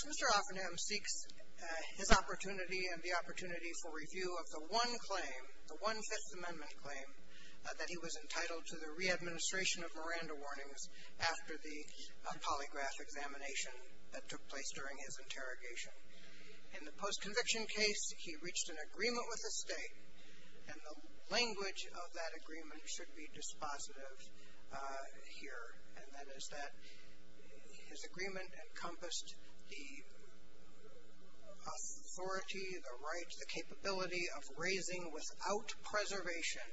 Mr. Offenham seeks his opportunity and the opportunity for review of the one claim, the one Fifth Amendment claim, that he was entitled to the re-administration of Miranda warnings after the polygraph examination that took place during his interrogation. In the post-conviction case, he reached an agreement with the state, and the language of that agreement should be dispositive here, and that is that his agreement encompassed the authority, the rights, the capability of raising without preservation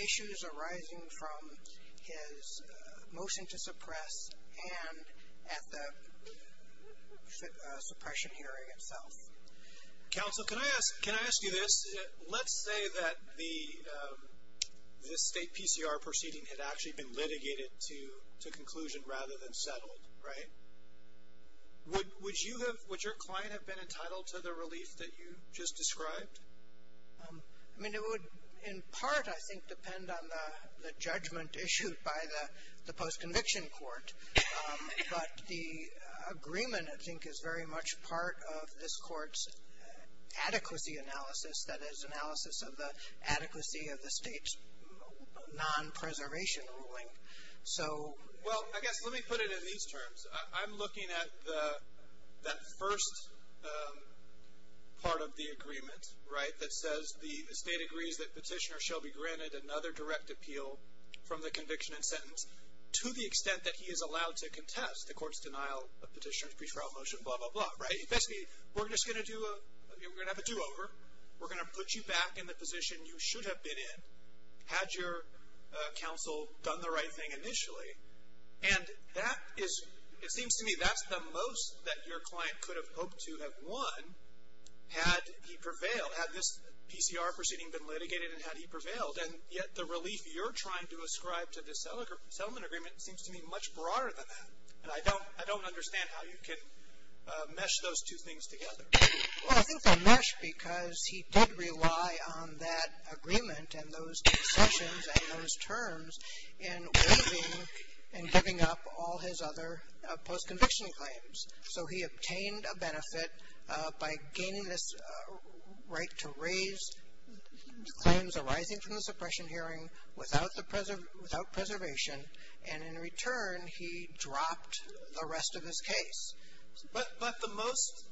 issues arising from his motion to suppress and at the suppression hearing. Mr. Offenham. Counsel, can I ask you this? Let's say that the state PCR proceeding had actually been litigated to conclusion rather than settled, right? Would you have, would your client have been entitled to the relief that you just described? I mean, it would, in part, I think, depend on the judgment issued by the post-conviction court. But the agreement, I think, is very much part of this court's adequacy analysis, that is, analysis of the adequacy of the state's non-preservation ruling. Well, I guess, let me put it in these terms. I'm looking at that first part of the agreement, right, that says the state agrees that petitioner shall be granted another direct appeal from the conviction and sentence to the extent that he is allowed to contest the court's denial of petitioner's pre-trial motion, blah, blah, blah, right? Basically, we're just going to do a, we're going to have a do-over. We're going to put you back in the position you should have been in had your counsel done the right thing initially. And that is, it seems to me, that's the most that your client could have hoped to have won had he prevailed, had this PCR proceeding been litigated and had he prevailed. And yet the relief you're trying to ascribe to the settlement agreement seems to me much broader than that. And I don't understand how you could mesh those two things together. Well, I think they're meshed because he did rely on that agreement and those concessions and those terms in waiving and giving up all his other post-conviction claims. So he obtained a benefit by gaining this right to raise claims arising from the suppression hearing without preservation. And in return, he dropped the rest of his case. But the most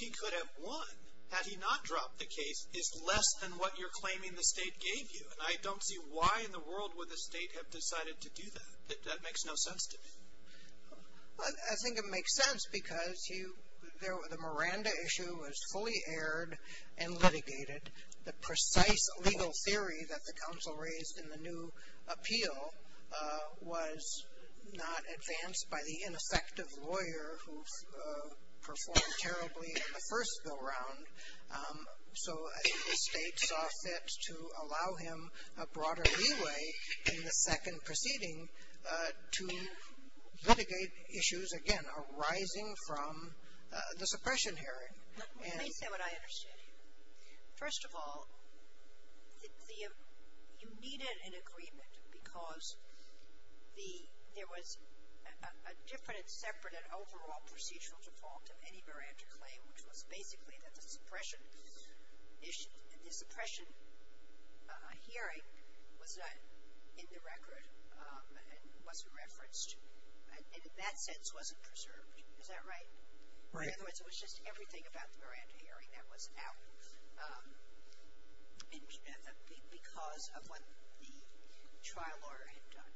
he could have won had he not dropped the case is less than what you're claiming the state gave you. And I don't see why in the world would the state have decided to do that. That makes no sense to me. I think it makes sense because the Miranda issue was fully aired and litigated. The precise legal theory that the council raised in the new appeal was not advanced by the ineffective lawyer who performed terribly in the first go-round. So the state saw fit to allow him a broader leeway in the second proceeding to litigate issues, again, arising from the suppression hearing. Let me say what I understand. First of all, you needed an agreement because there was a different and separate and overall procedural default of any Miranda claim, which was basically that the suppression hearing was not in the record and wasn't referenced and in that sense wasn't preserved. Is that right? Right. In other words, it was just everything about the Miranda hearing that was out because of what the trial lawyer had done.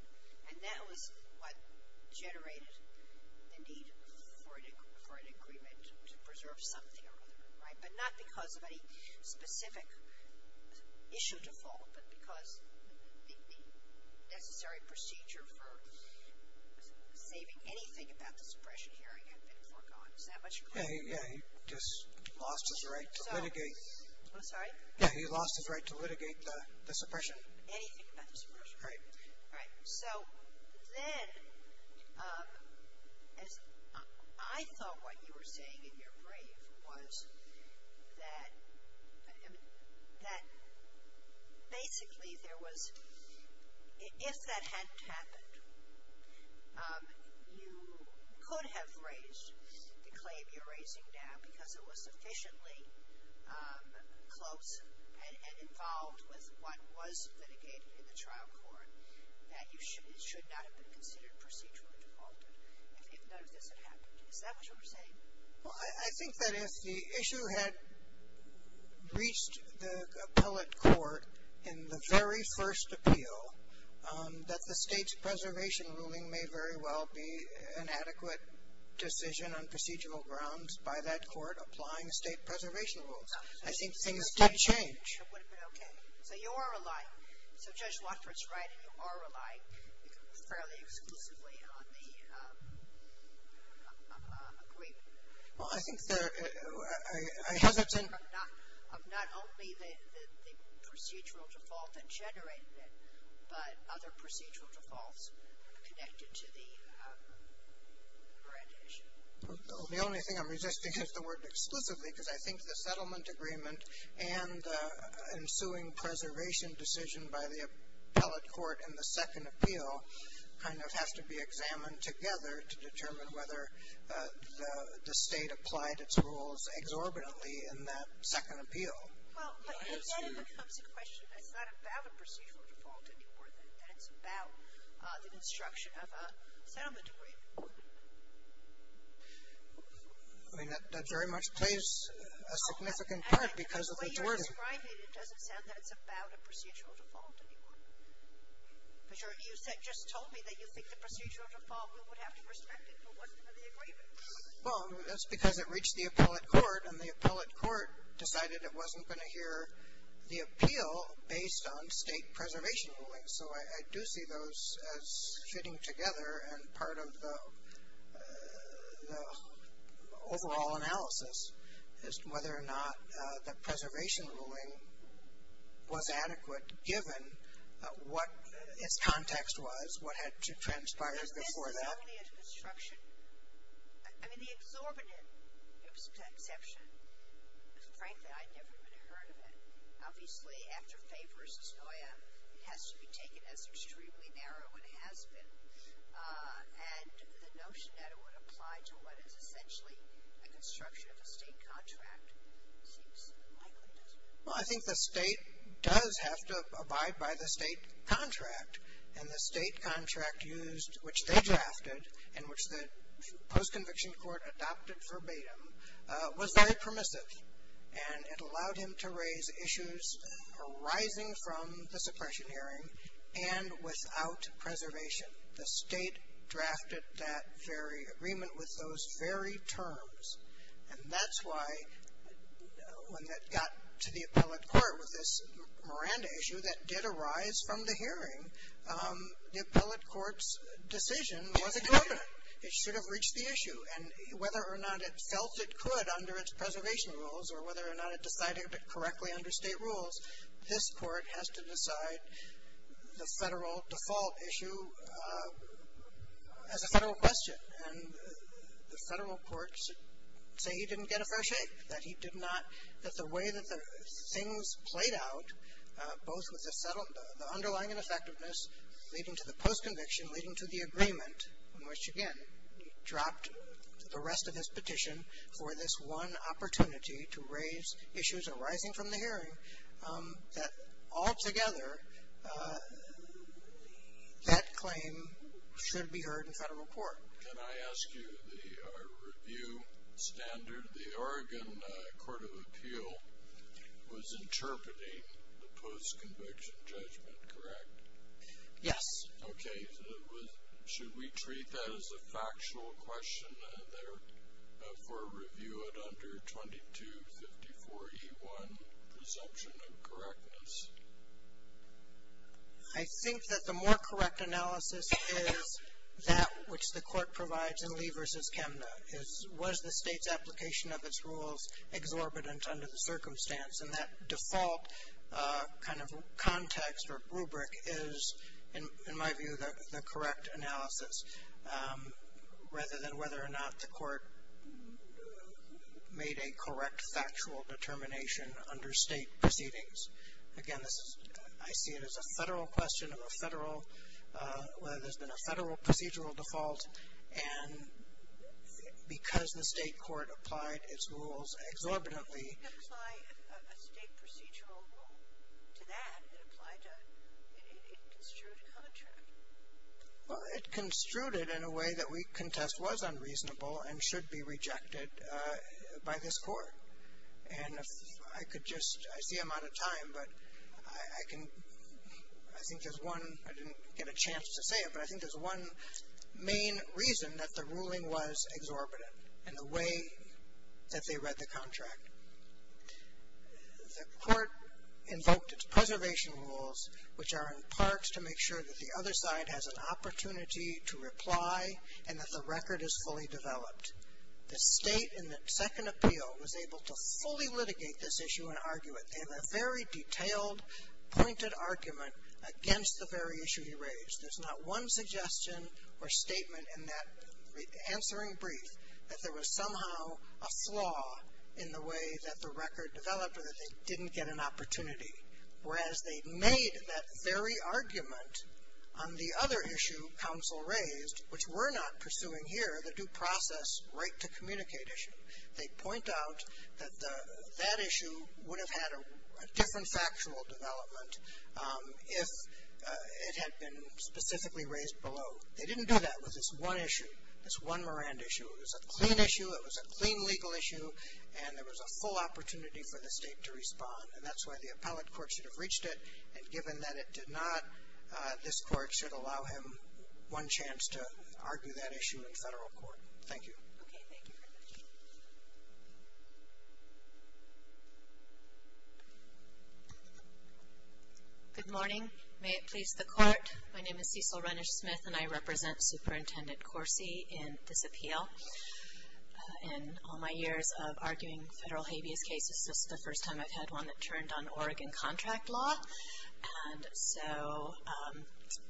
And that was what generated the need for an agreement to preserve something or other, right? But not because of any specific issue default, but because the necessary procedure for saving anything about the suppression hearing had been foregone. Is that what you're saying? Yeah, he just lost his right to litigate. I'm sorry? Yeah, he lost his right to litigate the suppression. Anything about the suppression. Right. So then I thought what you were saying in your brief was that basically there was, if that hadn't happened, you could have raised the claim you're raising now because it was sufficiently close and involved with what was litigated in the trial court that it should not have been considered procedurally defaulted if none of this had happened. Is that what you're saying? Well, I think that if the issue had reached the appellate court in the very first appeal, that the state's preservation ruling may very well be an adequate decision on procedural grounds by that court applying state preservation rules. I think things did change. It would have been okay. So you are relying, so Judge Watford's right, you are relying fairly exclusively on the agreement. Well, I think there, I hesitate. Of not only the procedural default that generated it, but other procedural defaults connected to the grand issue. The only thing I'm resisting is the word exclusively because I think the settlement agreement and the ensuing preservation decision by the appellate court in the second appeal kind of has to be examined together to determine whether the state applied its rules exorbitantly in that second appeal. Well, but then it becomes a question that's not about a procedural default anymore, that it's about the construction of a settlement agreement. I mean, that very much plays a significant part because of the wording. The way you're describing it, it doesn't sound that it's about a procedural default anymore. But you just told me that you think the procedural default, we would have to respect it if it wasn't for the agreement. Well, that's because it reached the appellate court and the appellate court decided it wasn't going to hear the appeal based on state preservation rulings. So I do see those as fitting together and part of the overall analysis is whether or not the preservation ruling was adequate given what its context was, what had transpired before that. I mean, the exorbitant exception, frankly, I'd never even heard of it. Obviously, after Fay versus Noya, it has to be taken as extremely narrow and has been. And the notion that it would apply to what is essentially a construction of a state contract seems unlikely to us. Well, I think the state does have to abide by the state contract. And the state contract used, which they drafted and which the post-conviction court adopted verbatim, was very permissive. And it allowed him to raise issues arising from the suppression hearing and without preservation. The state drafted that very agreement with those very terms. And that's why when it got to the appellate court with this Miranda issue that did arise from the hearing, the appellate court's decision was incumbent. It should have reached the issue. And whether or not it felt it could under its preservation rules or whether or not it decided it correctly under state rules, this court has to decide the federal default issue as a federal question. And the federal courts say he didn't get a fair shake. That he did not, that the way that the things played out, both with the underlying and effectiveness leading to the post-conviction, leading to the agreement, which again dropped the rest of his petition for this one opportunity to raise issues arising from the hearing, that altogether that claim should be heard in federal court. Can I ask you, the review standard, the Oregon Court of Appeal was interpreting the post-conviction judgment, correct? Yes. Okay. Should we treat that as a factual question there for review at under 2254E1, presumption of correctness? I think that the more correct analysis is that which the court provides in Lee v. Kemna, is was the state's application of its rules exorbitant under the circumstance? And that default kind of context or rubric is, in my view, the correct analysis rather than whether or not the court made a correct factual determination under state proceedings. Again, this is, I see it as a federal question of a federal, whether there's been a federal procedural default. And because the state court applied its rules exorbitantly. It didn't apply a state procedural rule to that. It applied to a construed contract. Well, it construed it in a way that we contest was unreasonable and should be rejected by this court. And if I could just, I see I'm out of time, but I can, I think there's one, I didn't get a chance to say it, but I think there's one main reason that the ruling was exorbitant in the way that they read the contract. The court invoked its preservation rules, which are in part to make sure that the other side has an opportunity to reply and that the record is fully developed. The state in the second appeal was able to fully litigate this issue and argue it. They have a very detailed, pointed argument against the very issue he raised. There's not one suggestion or statement in that answering brief that there was somehow a flaw in the way that the record developed or that they didn't get an opportunity. Whereas they made that very argument on the other issue counsel raised, which we're not pursuing here, the due process right to communicate issue. They point out that that issue would have had a different factual development if it had been specifically raised below. They didn't do that with this one issue, this one Morand issue. It was a clean issue. It was a clean legal issue. And there was a full opportunity for the state to respond. And that's why the appellate court should have reached it. And given that it did not, this court should allow him one chance to argue that issue in federal court. Thank you. Okay, thank you very much. Good morning. May it please the court. My name is Cecil Renish-Smith and I represent Superintendent Corsi in this appeal. In all my years of arguing federal habeas cases, this is the first time I've had one that turned on Oregon contract law. And so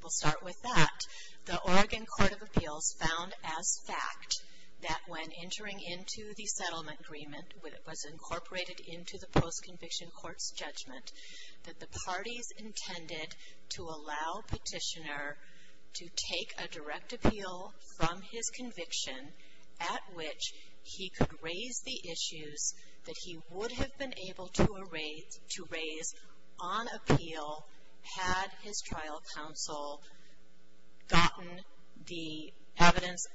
we'll start with that. The Oregon Court of Appeals found as fact that when entering into the settlement agreement when it was incorporated into the post-conviction court's judgment, that the parties intended to allow petitioner to take a direct appeal from his conviction at which he could raise the issues that he would have been able to raise on appeal had his trial counsel gotten the evidence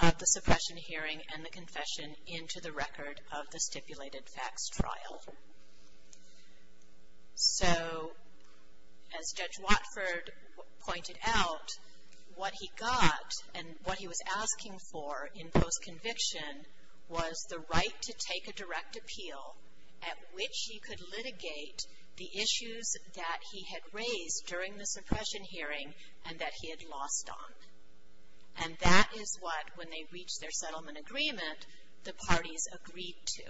of the suppression hearing and the confession into the record of the stipulated facts trial. So as Judge Watford pointed out, what he got and what he was asking for in post-conviction was the right to take a direct appeal at which he could litigate the issues that he had raised during the suppression hearing and that he had lost on. And that is what, when they reached their settlement agreement, the parties agreed to.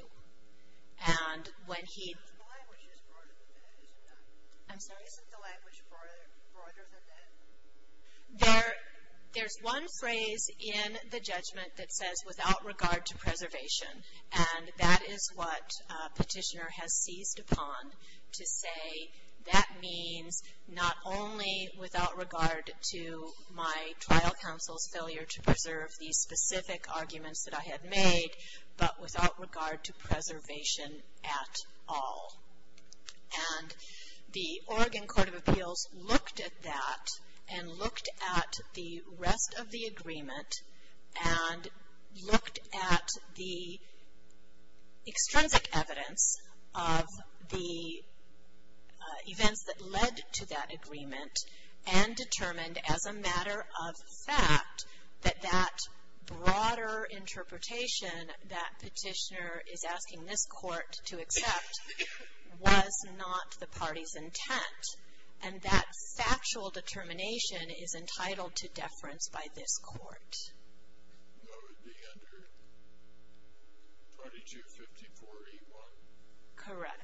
And when he... The language is broader than that, isn't it? I'm sorry? Isn't the language broader than that? There's one phrase in the judgment that says, without regard to preservation, and that is what petitioner has seized upon to say, that means not only without regard to my trial counsel's failure to preserve the specific arguments that I had made, but without regard to preservation at all. And the Oregon Court of Appeals looked at that and looked at the rest of the agreement and looked at the extrinsic evidence of the events that led to that agreement and determined as a matter of fact that that broader interpretation that petitioner is asking this court to accept was not the party's intent. And that factual determination is entitled to deference by this court. That would be under 2254A1. Correct.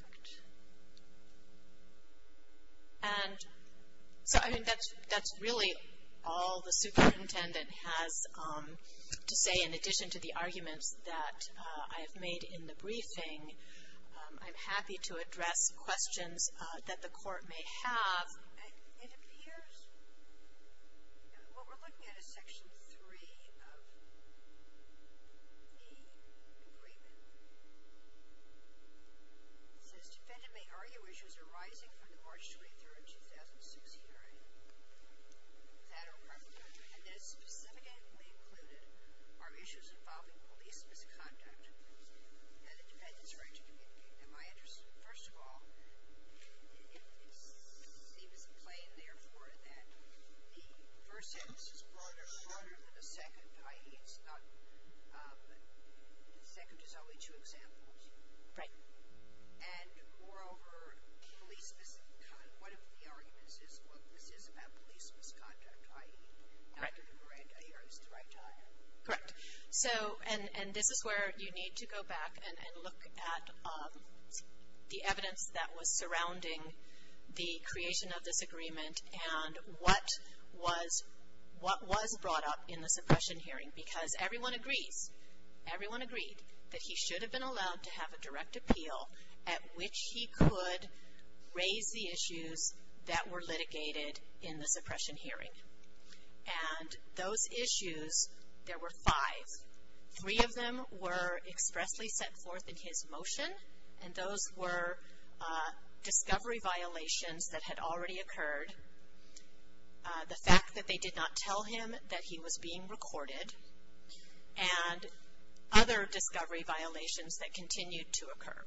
And so I think that's really all the superintendent has to say, in addition to the arguments that I have made in the briefing. I'm happy to address questions that the court may have. It appears what we're looking at is Section 3 of the agreement. It says, defendant may argue issues arising from the March 23, 2006 hearing of the Federal Department of Justice, and that is specifically included are issues involving police misconduct and the defendant's right to communicate. In my interest, first of all, it seems plain, therefore, that the first sentence is broader than the second, i.e., the second is only two examples. Right. And, moreover, police misconduct, one of the arguments is what this is about police misconduct, i.e., not having a grand jury is the right time. Correct. And this is where you need to go back and look at the evidence that was surrounding the creation of this agreement and what was brought up in the suppression hearing, because everyone agrees, everyone agreed that he should have been allowed to have a direct appeal at which he could raise the issues that were litigated in the suppression hearing. And those issues, there were five. Three of them were expressly set forth in his motion, and those were discovery violations that had already occurred, the fact that they did not tell him that he was being recorded, and other discovery violations that continued to occur.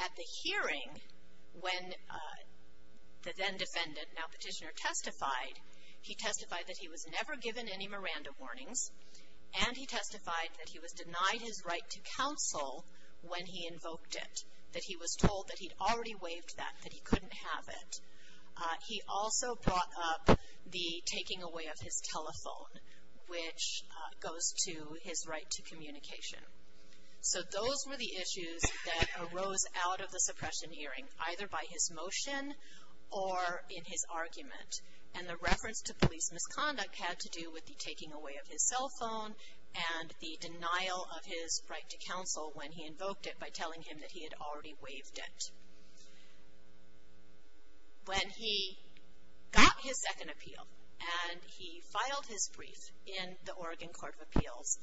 At the hearing, when the then-defendant, now petitioner, testified, he testified that he was never given any Miranda warnings, and he testified that he was denied his right to counsel when he invoked it, that he was told that he'd already waived that, that he couldn't have it. He also brought up the taking away of his telephone, which goes to his right to communication. So those were the issues that arose out of the suppression hearing, either by his motion or in his argument. And the reference to police misconduct had to do with the taking away of his cell phone and the denial of his right to counsel when he invoked it by telling him that he had already waived it. When he got his second appeal and he filed his brief in the Oregon Court of Appeals,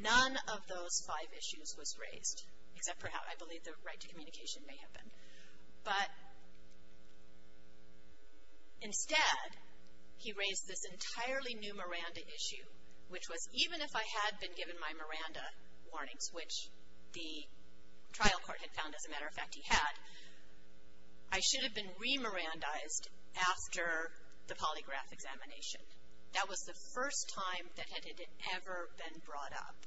none of those five issues was raised, except for how I believe the right to communication may have been. But instead, he raised this entirely new Miranda issue, which was even if I had been given my Miranda warnings, which the trial court had found, as a matter of fact, he had, I should have been re-Mirandaized after the polygraph examination. That was the first time that it had ever been brought up.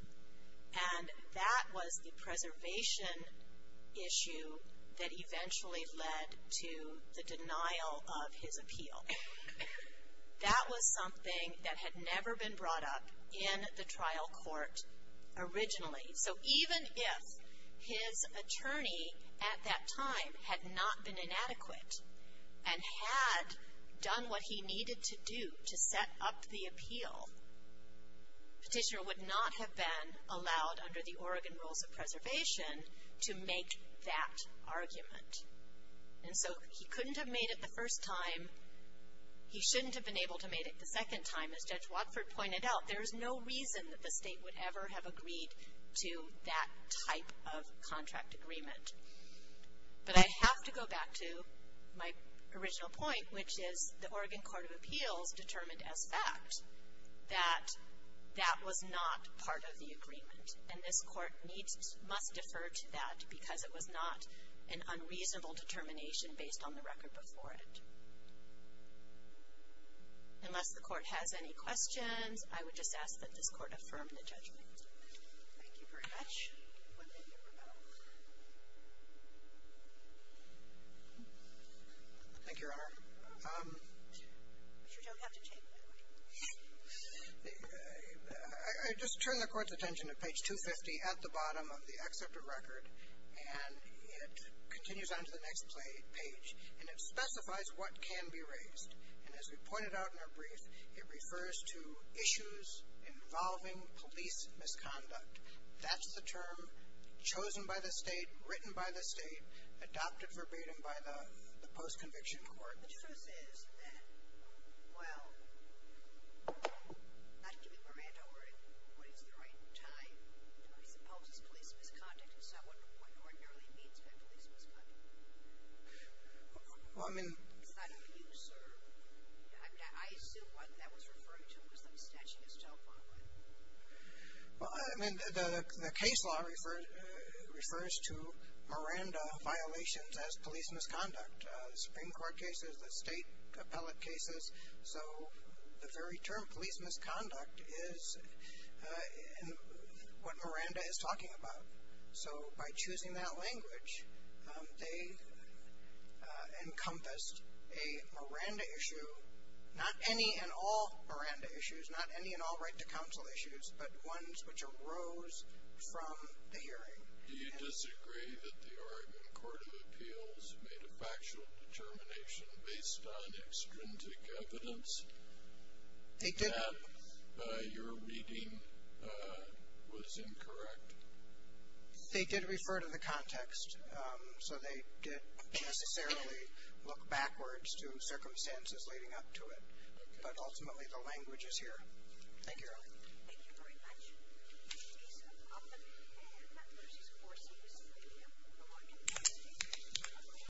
And that was the preservation issue that eventually led to the denial of his appeal. That was something that had never been brought up in the trial court originally. So even if his attorney at that time had not been inadequate and had done what he needed to do to set up the appeal, petitioner would not have been allowed under the Oregon Rules of Preservation to make that argument. And so he couldn't have made it the first time. He shouldn't have been able to make it the second time. As Judge Watford pointed out, there is no reason that the state would ever have agreed to that type of contract agreement. But I have to go back to my original point, which is the Oregon Court of Appeals determined as fact that that was not part of the agreement. And this court must defer to that because it was not an unreasonable determination based on the record before it. Unless the court has any questions, I would just ask that this court affirm the judgment. Thank you very much. Thank you, Your Honor. I just turn the court's attention to page 250 at the bottom of the excerpt of record, and it continues on to the next page, and it specifies what can be raised. And as we pointed out in our brief, it refers to issues involving police misconduct. That's the term chosen by the state, written by the state, adopted verbatim by the post-conviction court. The truth is that, well, not to give you a random word, what is the right time to raise the policy of police misconduct? And so I wonder what ordinarily means by police misconduct. Well, I mean— It's not abuse or— I assume what that was referring to was the postage in his telephone book. Well, I mean, the case law refers to Miranda violations as police misconduct. The Supreme Court cases, the state appellate cases, so the very term police misconduct is what Miranda is talking about. So by choosing that language, they encompassed a Miranda issue, not any and all Miranda issues, not any and all right-to-counsel issues, but ones which arose from the hearing. Do you disagree that the Oregon Court of Appeals made a factual determination based on extrinsic evidence— They didn't. —that your reading was incorrect? They did refer to the context, so they didn't necessarily look backwards to circumstances leading up to it, but ultimately the language is here. Thank you, Your Honor. Thank you very much.